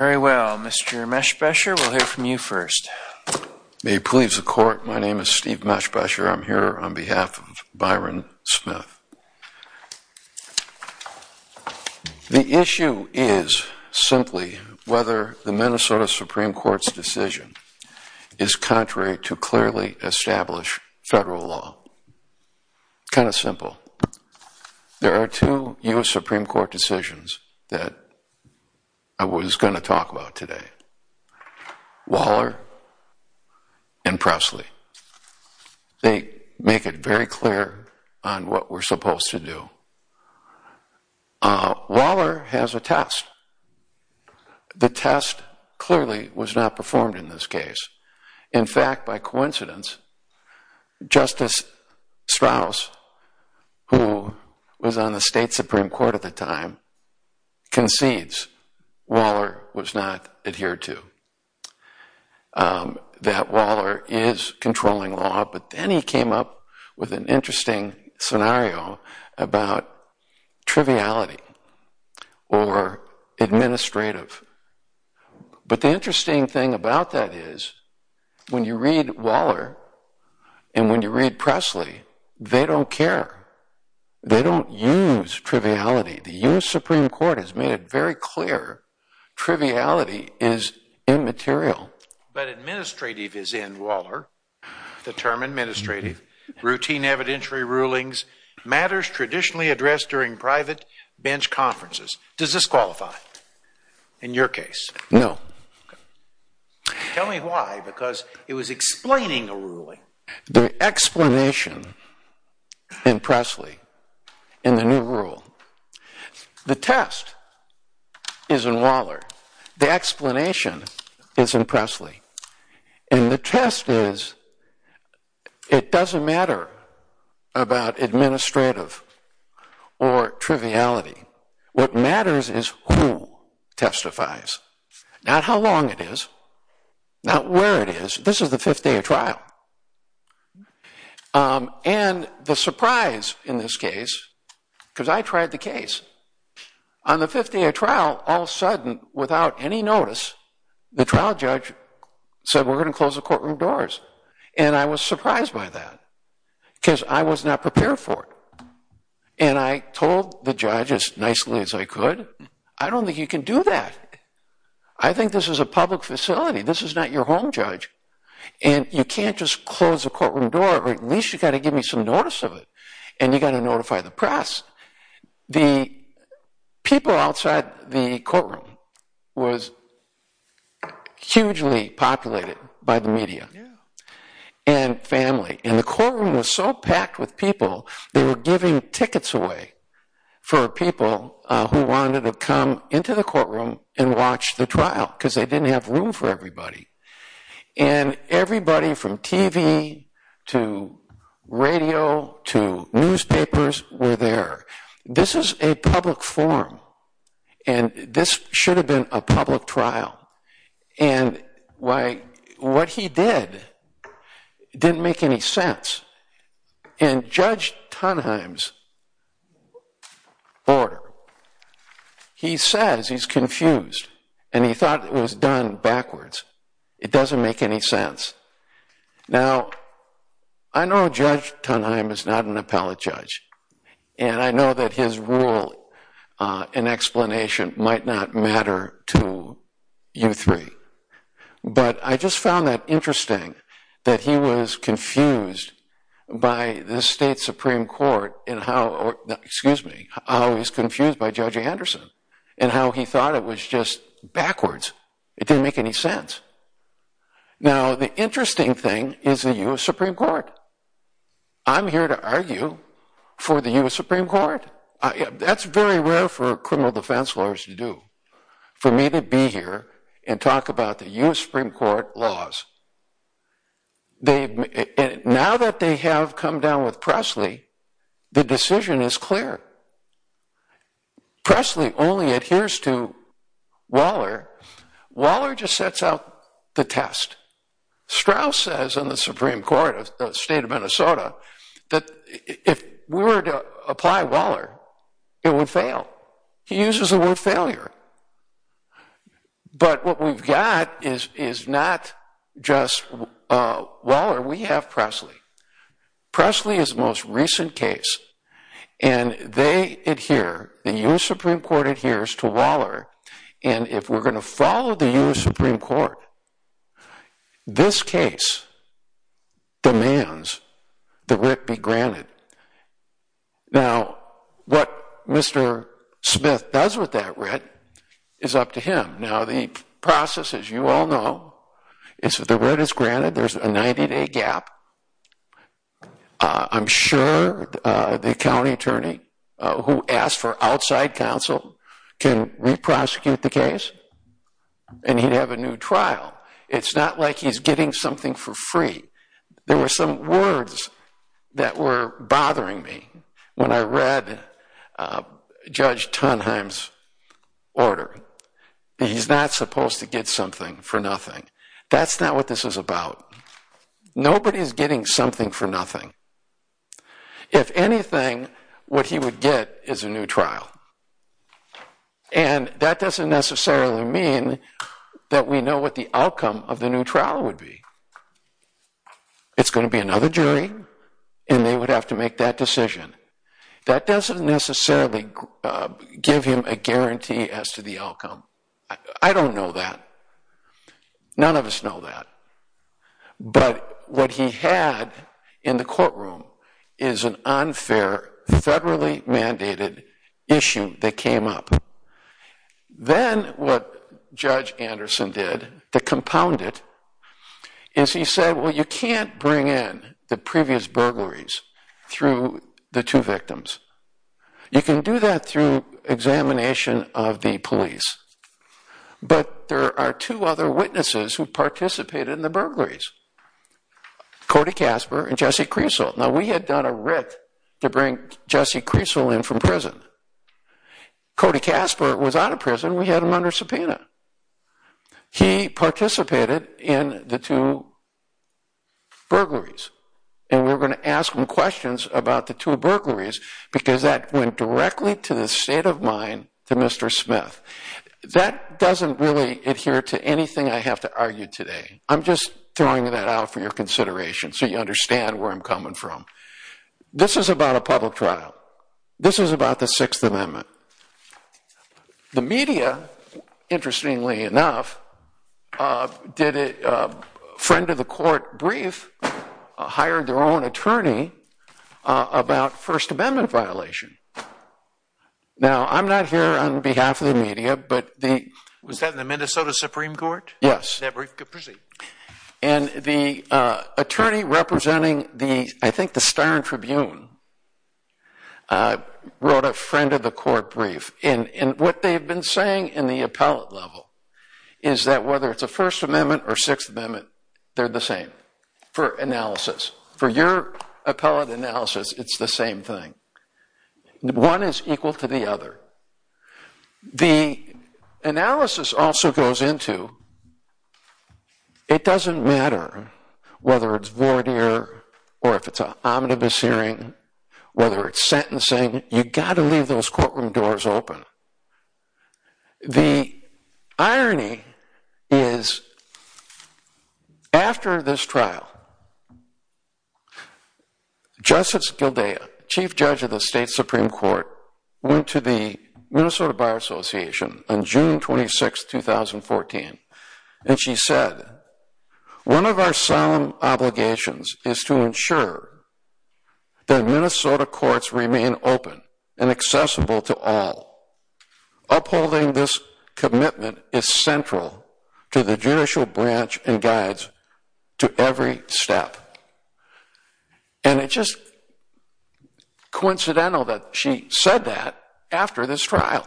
Very well, Mr. Meshbesher, we'll hear from you first. May it please the Court, my name is Steve Meshbesher, I'm here on behalf of Byron Smith. The issue is, simply, whether the Minnesota Supreme Court's decision is contrary to clearly established federal law. Kind of simple. There are two U.S. Supreme Court decisions that I was going to talk about today, Waller and Presley. They make it very clear on what we're supposed to do. Waller has a test. The test clearly was not performed in this case. In fact, by coincidence, Justice Strauss, who was on the state Supreme Court at the time, concedes Waller was not adhered to. That Waller is controlling law, but then he came up with an interesting scenario about triviality or administrative. But the interesting thing about that is, when you read Waller and when you read Presley, they don't care. They don't use triviality. The U.S. Supreme Court has made it very clear triviality is immaterial. But administrative is in Waller. The term administrative, routine evidentiary rulings, matters traditionally addressed during private bench conferences. Does this qualify in your case? No. Tell me why, because it was explaining a ruling. The explanation in Presley, in the new rule, the test is in Waller. The explanation is in Presley. And the test is, it doesn't matter about administrative or triviality. What matters is who testifies, not how long it is, not where it is. This is the fifth day of trial. And the surprise in this case, because I tried the case, on the fifth day of trial, all of a sudden, without any notice, the trial judge said, we're going to close the courtroom doors. And I was surprised by that, because I was not prepared for it. And I told the judge, as nicely as I could, I don't think you can do that. I think this is a public facility. This is not your home, judge. And you can't just close the courtroom door, or at least you've got to give me some notice of it. And you've got to notify the press. The people outside the courtroom was hugely populated by the media and family. And the courtroom was so packed with people, they were giving tickets away for people who wanted to come into the courtroom and watch the trial, because they didn't have room for everybody. And everybody from TV to radio to newspapers were there. This is a public forum. And this should have been a public trial. And what he did didn't make any sense. In Judge Tunheim's order, he says he's confused. And he thought it was done backwards. It doesn't make any sense. Now, I know Judge Tunheim is not an appellate judge. And I know that his rule and explanation might not matter to you three. But I just found that interesting, that he was confused by the state Supreme Court in how he was confused by Judge Anderson, and how he thought it was just backwards. It didn't make any sense. Now the interesting thing is the U.S. Supreme Court. I'm here to argue for the U.S. Supreme Court. That's very rare for criminal defense lawyers to do, for me to be here and talk about the U.S. Supreme Court laws. Now that they have come down with Presley, the decision is clear. Presley only adheres to Waller. Waller just sets out the test. Strauss says in the Supreme Court of the state of Minnesota that if we were to apply Waller, it would fail. He uses the word failure. But what we've got is not just Waller. We have Presley. Presley is the most recent case. And they adhere, the U.S. Supreme Court adheres to Waller. And if we're going to follow the U.S. Supreme Court, this case demands the writ be granted. Now what Mr. Smith does with that writ is up to him. Now the process, as you all know, is that the writ is granted. There's a 90-day gap. I'm sure the county attorney who asked for outside counsel can re-prosecute the case and he'd have a new trial. It's not like he's getting something for free. There were some words that were bothering me when I read Judge Tonheim's order. He's not supposed to get something for nothing. That's not what this is about. Nobody's getting something for nothing. If anything, what he would get is a new trial. And that doesn't necessarily mean that we know what the outcome of the new trial would be. It's going to be another jury and they would have to make that decision. That doesn't necessarily give him a guarantee as to the outcome. I don't know that. None of us know that. But what he had in the courtroom is an unfair, federally mandated issue that came up. Then what Judge Anderson did to compound it is he said, well, you can't bring in the previous burglaries through the two victims. You can do that through examination of the police. But there are two other witnesses who participated in the burglaries, Cody Casper and Jesse Creasel. Now, we had done a writ to bring Jesse Creasel in from prison. Cody Casper was out of prison. We had him under subpoena. He participated in the two burglaries. And we were going to ask him questions about the two burglaries because that went directly to the state of mind to Mr. Smith. That doesn't really adhere to anything I have to argue today. I'm just throwing that out for your consideration so you understand where I'm coming from. This is about a public trial. This is about the Sixth Amendment. The media, interestingly enough, did a friend of the court brief, hired their own attorney about First Amendment violation. Now, I'm not here on behalf of the media, but the- Was that in the Minnesota Supreme Court? Yes. That brief could proceed. And the attorney representing the, I think the Styron Tribune, wrote a friend of the court brief. And what they've been saying in the appellate level is that whether it's a First Amendment or Sixth Amendment, they're the same for analysis. For your appellate analysis, it's the same thing. One is equal to the other. The analysis also goes into, it doesn't matter whether it's voir dire or if it's an omnibus hearing, whether it's sentencing, you've got to leave those courtroom doors open. Now, the irony is after this trial, Justice Gildaya, Chief Judge of the State Supreme Court, went to the Minnesota Bar Association on June 26, 2014. And she said, one of our solemn obligations is to ensure that Minnesota courts remain open and accessible to all. Upholding this commitment is central to the judicial branch and guides to every step. And it's just coincidental that she said that after this trial.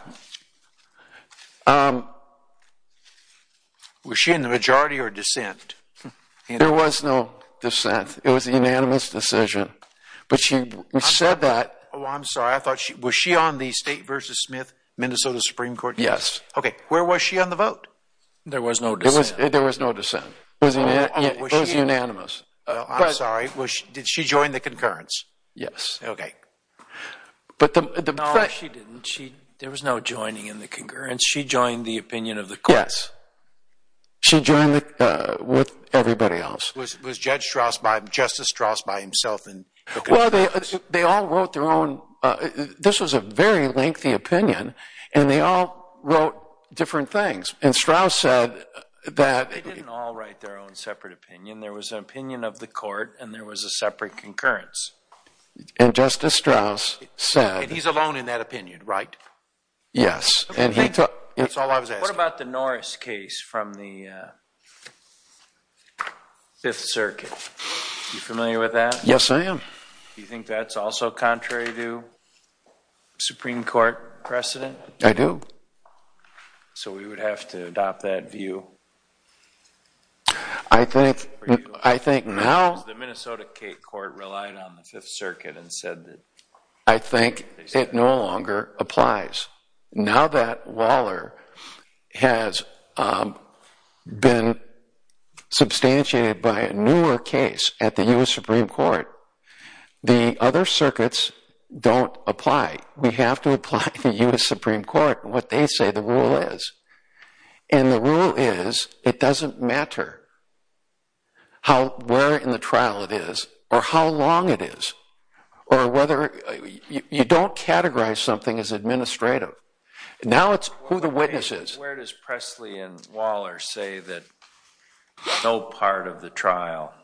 Was she in the majority or dissent? There was no dissent. It was a unanimous decision. But she said that- I'm sorry, I thought, was she on the State versus Smith Minnesota Supreme Court? Yes. OK, where was she on the vote? There was no dissent. There was no dissent. It was unanimous. I'm sorry, did she join the concurrence? Yes. OK. But the fact- No, she didn't. There was no joining in the concurrence. She joined the opinion of the courts. She joined with everybody else. Was Judge Strauss, Justice Strauss by himself? Well, they all wrote their own. This was a very lengthy opinion. And they all wrote different things. And Strauss said that- They didn't all write their own separate opinion. There was an opinion of the court. And there was a separate concurrence. And Justice Strauss said- He's alone in that opinion, right? Yes. And he took- That's all I was asking. What about the Norris case from the Fifth Circuit? You familiar with that? Yes, I am. Do you think that's also contrary to Supreme Court precedent? I do. So we would have to adopt that view? I think now- The Minnesota court relied on the Fifth Circuit and said that- I think it no longer applies. Now that Waller has been substantiated by a newer case at the U.S. Supreme Court, the other circuits don't apply. We have to apply to the U.S. Supreme Court what they say the rule is. And the rule is it doesn't matter how- where in the trial it is or how long it is or whether- You don't categorize something as administrative. Now it's who the witness is. Where does Presley and Waller say that no part of the trial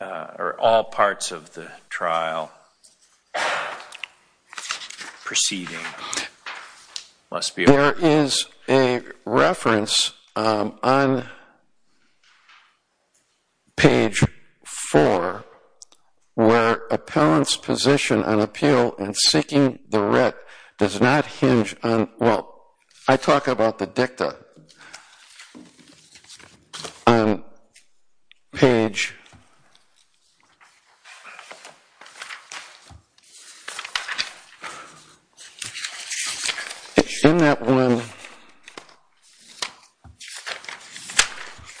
or all parts of the trial proceeding must be- There is a reference on page four where appellant's position on appeal in seeking the writ does not hinge on- well, I talk about the dicta on page- in that one-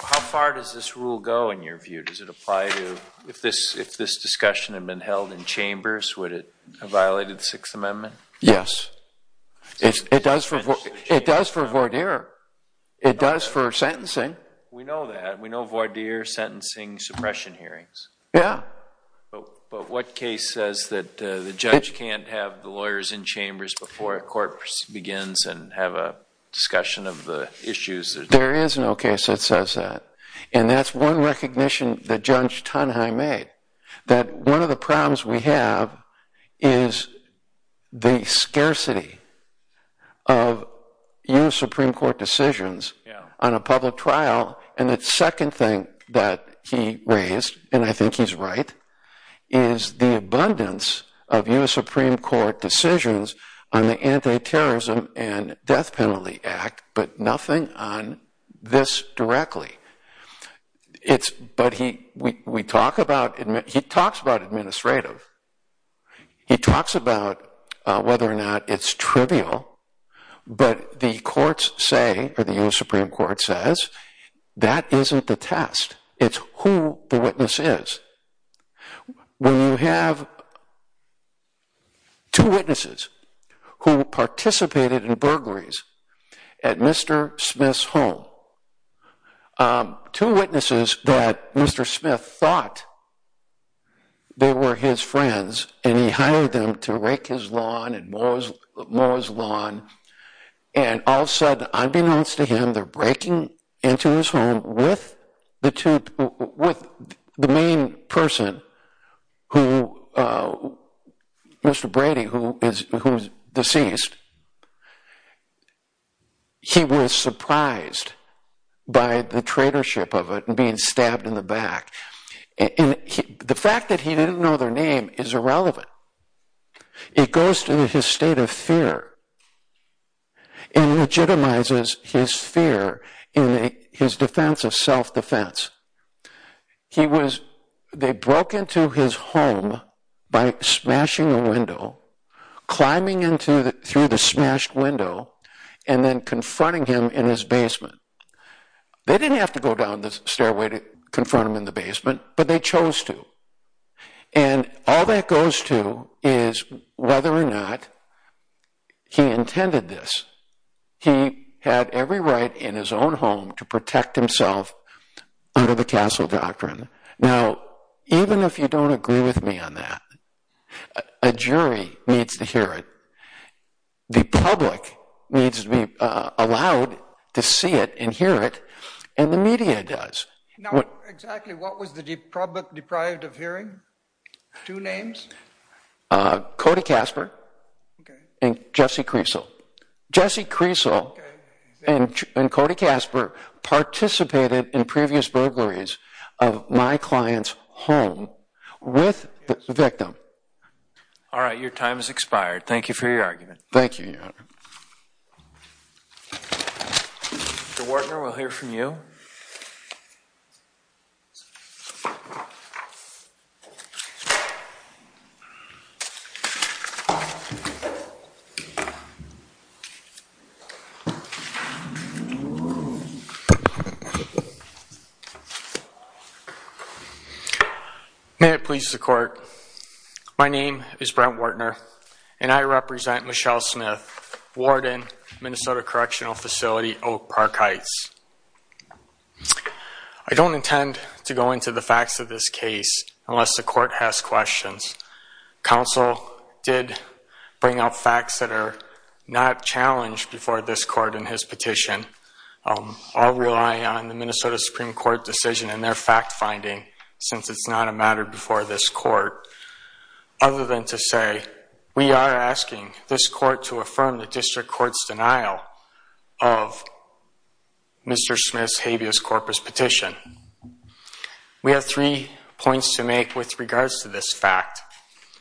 How far does this rule go in your view? Does it apply to- if this discussion had been held in chambers, would it have violated the Sixth Amendment? Yes. It does for Vordeer. It does for sentencing. We know that. We know Vordeer sentencing suppression hearings. Yeah. But what case says that the judge can't have the lawyers in chambers before a court begins and have a discussion of the issues that- There is no case that says that. And that's one recognition that Judge Tonheim made, that one of the problems we have is the scarcity of U.S. Supreme Court decisions on a public trial. And the second thing that he raised, and I think he's right, is the abundance of U.S. Supreme Court decisions on the Anti-Terrorism and Death Penalty Act, but nothing on this directly. But we talk about- he talks about administrative. He talks about whether or not it's trivial, but the courts say, or the U.S. Supreme Court says, that isn't the test. It's who the witness is. When you have two witnesses who participated in burglaries at Mr. Smith's home, two witnesses that Mr. Smith thought they were his friends, and he hired them to rake his lawn and mow his lawn, and all of a sudden, unbeknownst to him, they're breaking into his home with the main person, Mr. Brady, who is deceased. He was surprised by the traitorship of it and being stabbed in the back. The fact that he didn't know their name is irrelevant. It goes to his state of fear and legitimizes his fear in his defense of self-defense. He was- they broke into his home by smashing a window, climbing through the smashed window, and then confronting him in his basement. They didn't have to go down the stairway to confront him in the basement, but they chose to. And all that goes to is whether or not he intended this. He had every right in his own home to protect himself under the Castle Doctrine. Now, even if you don't agree with me on that, a jury needs to hear it. The public needs to be allowed to see it and hear it, and the media does. Now, exactly what was the public deprived of hearing? Two names? Cody Casper and Jesse Creasel. Jesse Creasel and Cody Casper participated in previous burglaries of my client's home with the victim. All right, your time has expired. Thank you for your argument. Thank you, Your Honor. Mr. Wartner, we'll hear from you. Thank you. May it please the court, my name is Brent Wartner, and I represent Michelle Smith, warden, Minnesota Correctional Facility, Oak Park Heights. I don't intend to go into the facts of this case unless the court has questions. Counsel did bring up facts that are not challenged before this court in his petition. I'll rely on the Minnesota Supreme Court decision and their fact finding, since it's not a matter before this court. Other than to say, we are asking this court to affirm the district court's denial of Mr. Smith's habeas corpus petition. We have three points to make with regards to this fact.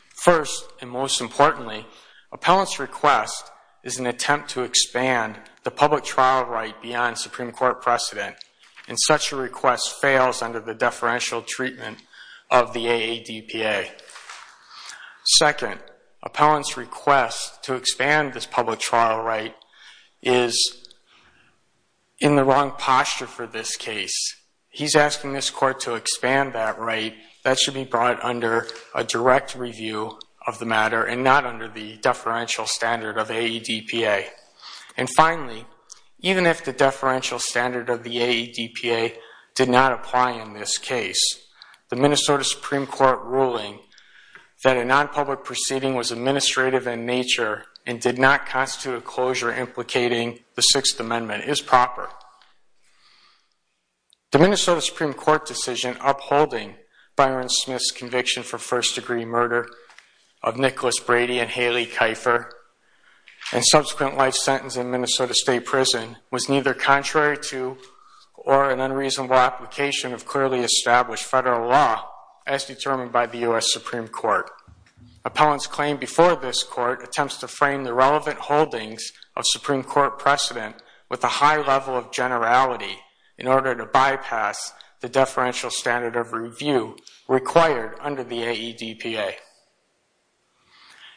First, and most importantly, appellant's request is an attempt to expand the public trial right beyond Supreme Court precedent. And such a request fails under the deferential treatment of the AADPA. Second, appellant's request to expand this public trial right is in the wrong posture for this case. He's asking this court to expand that right. That should be brought under a direct review of the matter and not under the deferential standard of AADPA. And finally, even if the deferential standard of the AADPA did not apply in this case, the Minnesota Supreme Court ruling that a non-public proceeding was administrative in nature and did not constitute a closure implicating the Sixth The Minnesota Supreme Court decision upholding Byron Smith's conviction for first degree murder of Nicholas Brady and Haley Kiefer and subsequent life sentence in Minnesota State Prison was neither contrary to or an unreasonable application of clearly established federal law as determined by the US Supreme Court. Appellant's claim before this court precedent with a high level of generality in order to bypass the deferential standard of review required under the AADPA.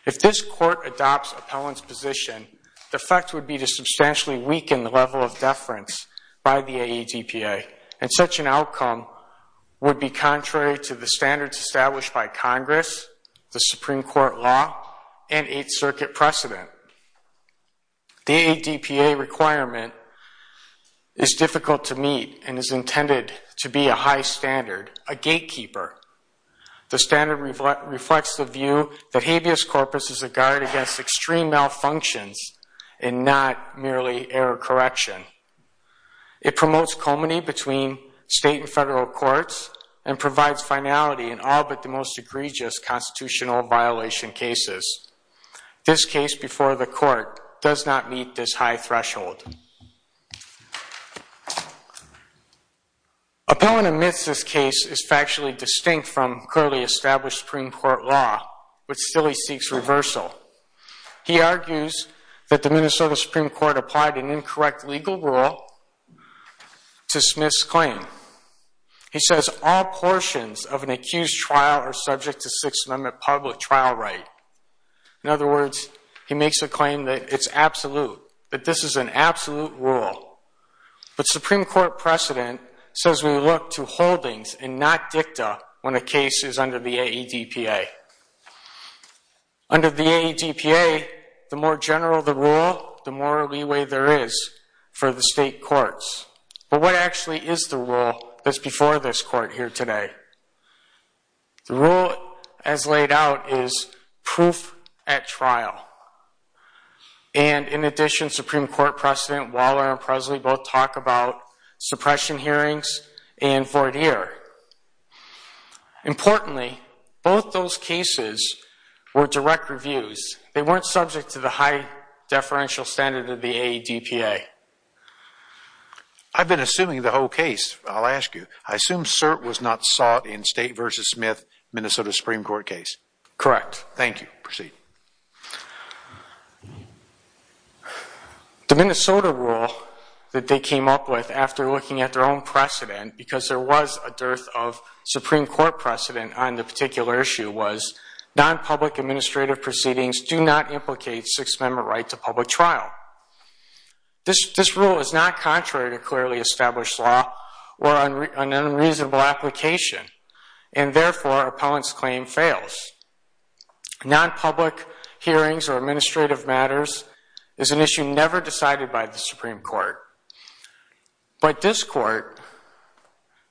If this court adopts appellant's position, the effect would be to substantially weaken the level of deference by the AADPA. And such an outcome would be contrary to the standards established by Congress, the Supreme Court law, and Eighth Circuit precedent. The AADPA requirement is difficult to meet and is intended to be a high standard, a gatekeeper. The standard reflects the view that habeas corpus is a guard against extreme malfunctions and not merely error correction. It promotes comity between state and federal courts and provides finality in all but the most egregious constitutional violation cases. This case before the court does not meet this high threshold. Appellant admits this case is factually distinct from clearly established Supreme Court law, but still he seeks reversal. He argues that the Minnesota Supreme Court applied an incorrect legal rule to Smith's claim. He says all portions of an accused trial are subject to Sixth Amendment public trial right. In other words, he makes a claim that it's absolute, that this is an absolute rule. But Supreme Court precedent says we look to holdings and not dicta when a case is under the AADPA. Under the AADPA, the more general the rule, the more leeway there is for the state courts. But what actually is the rule that's before this court here today? The rule, as laid out, is proof at trial. And in addition, Supreme Court precedent Waller and Presley both talk about suppression hearings and voir dire. Importantly, both those cases were direct reviews. They weren't subject to the high deferential standard of the AADPA. I've been assuming the whole case, I'll ask you. I assume cert was not sought in State versus Smith Minnesota Supreme Court case? Thank you. Proceed. The Minnesota rule that they came up with after looking at their own precedent, because there was a dearth of Supreme Court precedent on the particular issue, was non-public administrative proceedings do not implicate Sixth Amendment right to public trial. This rule is not contrary to clearly established law or an unreasonable application. And therefore, appellant's claim fails. Non-public hearings or administrative matters is an issue never decided by the Supreme Court. But this court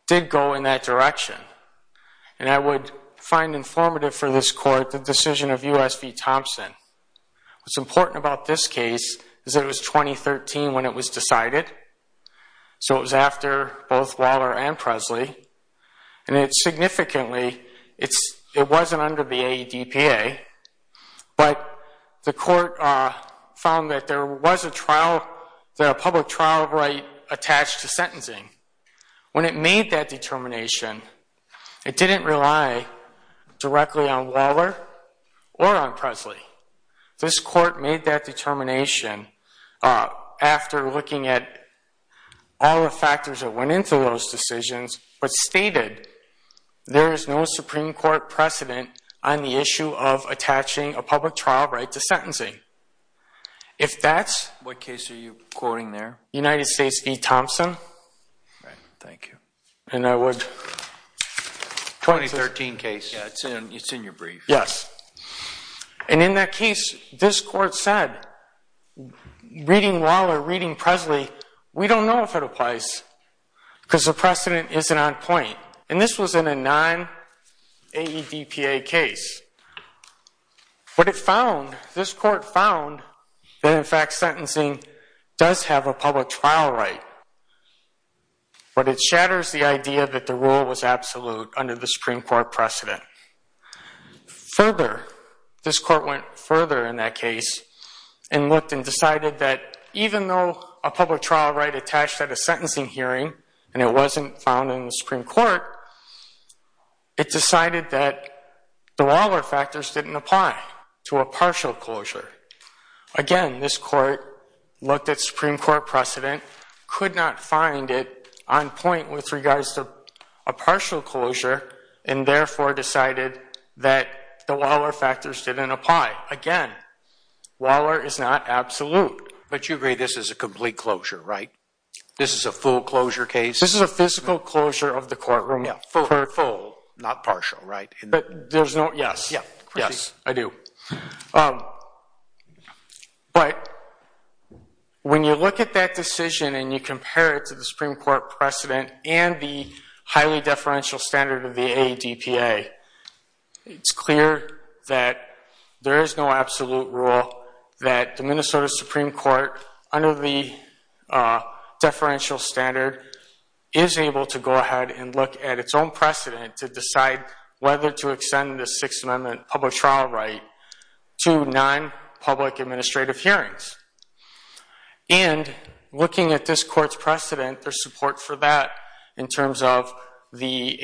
did go in that direction. And I would find informative for this court the decision of US v. Thompson. What's important about this case is that it was 2013 when it was decided. So it was after both Waller and Presley. And significantly, it wasn't under the AADPA. But the court found that there was a public trial right attached to sentencing. When it made that determination, it didn't rely directly on Waller or on Presley. This court made that determination after looking at all the factors that went into those decisions, but stated there is no Supreme Court precedent on the issue of attaching a public trial right to sentencing. If that's what case are you quoting there? United States v. Thompson. All right. Thank you. And I would. 2013 case. Yeah, it's in your brief. Yes. And in that case, this court said, reading Waller, reading Presley, we don't know if it applies because the precedent isn't on point. And this was in a non-AADPA case. But this court found that, in fact, sentencing does have a public trial right. But it shatters the idea that the rule was absolute under the Supreme Court precedent. Further, this court went further in that case and looked and decided that, even though a public trial right attached at a sentencing hearing and it wasn't found in the Supreme Court, it decided that the Waller factors didn't apply to a partial closure. Again, this court looked at Supreme Court precedent, could not find it on point with regards to a partial closure, and therefore decided that the Waller factors didn't apply. Again, Waller is not absolute. But you agree this is a complete closure, right? This is a full closure case? This is a physical closure of the courtroom. Yeah, full. Not partial, right? But there's no, yes. Yeah, yes, I do. But when you look at that decision and you compare it to the Supreme Court precedent and the highly deferential standard of the ADPA, it's clear that there is no absolute rule that the Minnesota Supreme Court, under the deferential standard, is able to go ahead and look at its own precedent to decide whether to extend the Sixth Amendment public trial right to non-public administrative hearings. And looking at this court's precedent, there's support for that in terms of the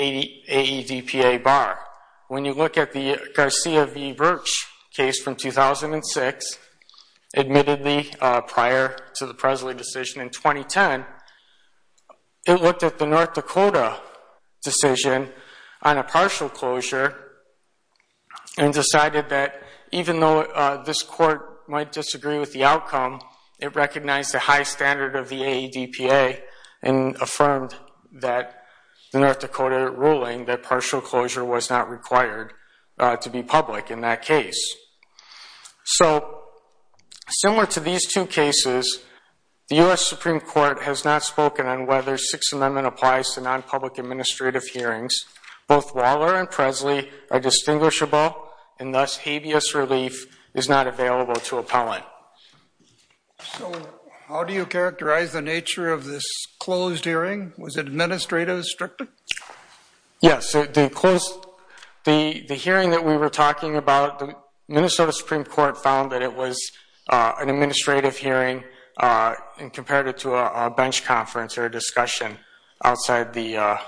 ADPA bar. When you look at the Garcia v. Birch case from 2006, admittedly prior to the Presley decision in 2010, it looked at the North Dakota decision on a partial closure and decided that even though this court might disagree with the outcome, it recognized the high standard of the ADPA and affirmed that the North Dakota ruling that partial closure was not required to be public in that case. So similar to these two cases, the US Supreme Court has not spoken on whether Sixth Amendment applies to non-public administrative hearings. Both Waller and Presley are distinguishable, and thus habeas relief is not available to appellant. So how do you characterize the nature of this closed hearing? Was it administrative, strictly? Yes, the hearing that we were talking about, the Minnesota Supreme Court found that it was an administrative hearing and compared it to a bench conference or a discussion outside the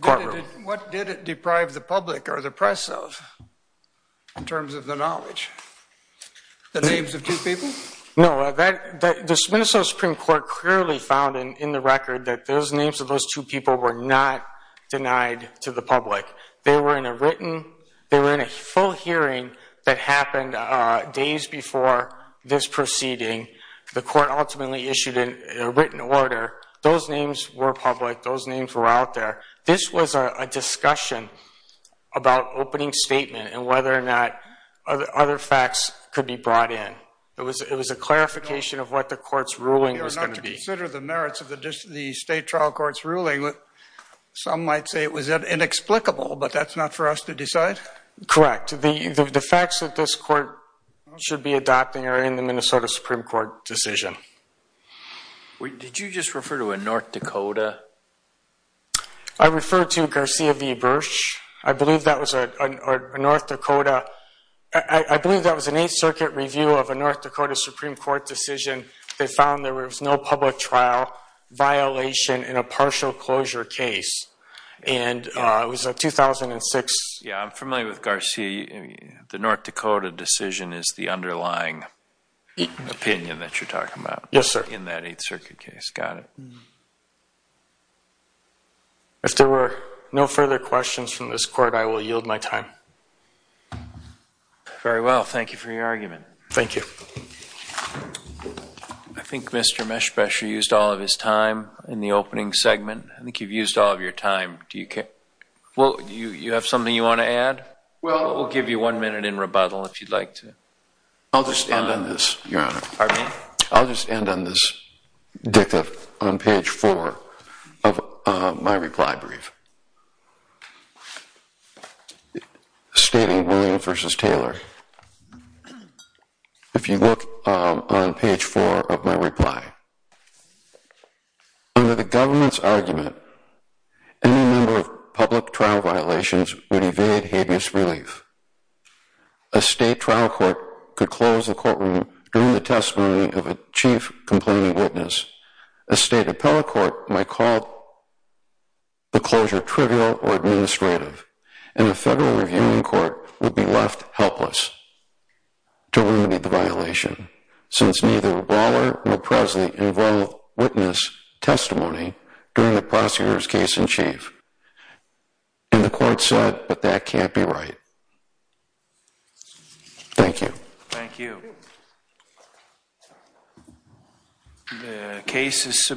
courtroom. What did it deprive the public or the press of in terms of the knowledge? The names of two people? No, the Minnesota Supreme Court clearly found in the record that those names of those two people were not denied to the public. They were in a written, they were in a full hearing that happened days before this proceeding. The court ultimately issued a written order. Those names were public. Those names were out there. This was a discussion about opening statement and whether or not other facts could be brought in. It was a clarification of what the court's ruling was going to be. You are not to consider the merits of the state trial court's ruling. Some might say it was inexplicable, but that's not for us to decide? Correct. The facts that this court should be adopting are in the Minnesota Supreme Court decision. Thank you. Did you just refer to a North Dakota? I referred to Garcia v. Bursch. I believe that was a North Dakota. I believe that was an Eighth Circuit review of a North Dakota Supreme Court decision. They found there was no public trial violation in a partial closure case. And it was a 2006. Yeah, I'm familiar with Garcia. The North Dakota decision is the underlying opinion that you're talking about in that Eighth Circuit case. Got it. If there were no further questions from this court, I will yield my time. Very well. Thank you for your argument. Thank you. I think Mr. Meshbacher used all of his time in the opening segment. I think you've used all of your time. Well, you have something you want to add? Well, we'll give you one minute in rebuttal if you'd like to. I'll just end on this, Your Honor. I'll just end on this dicta on page four of my reply brief. Stating William v. Taylor, if you look on page four of my reply, under the government's argument, any number of public trial violations would evade habeas relief. A state trial court could close the courtroom during the testimony of a chief complaining witness. A state appellate court might call the closure trivial or administrative. And a federal reviewing court would be left helpless to remedy the violation, since neither Brawler nor Presley involved witness testimony during the prosecutor's case in chief. And the court said, but that can't be right. Thank you. Thank you.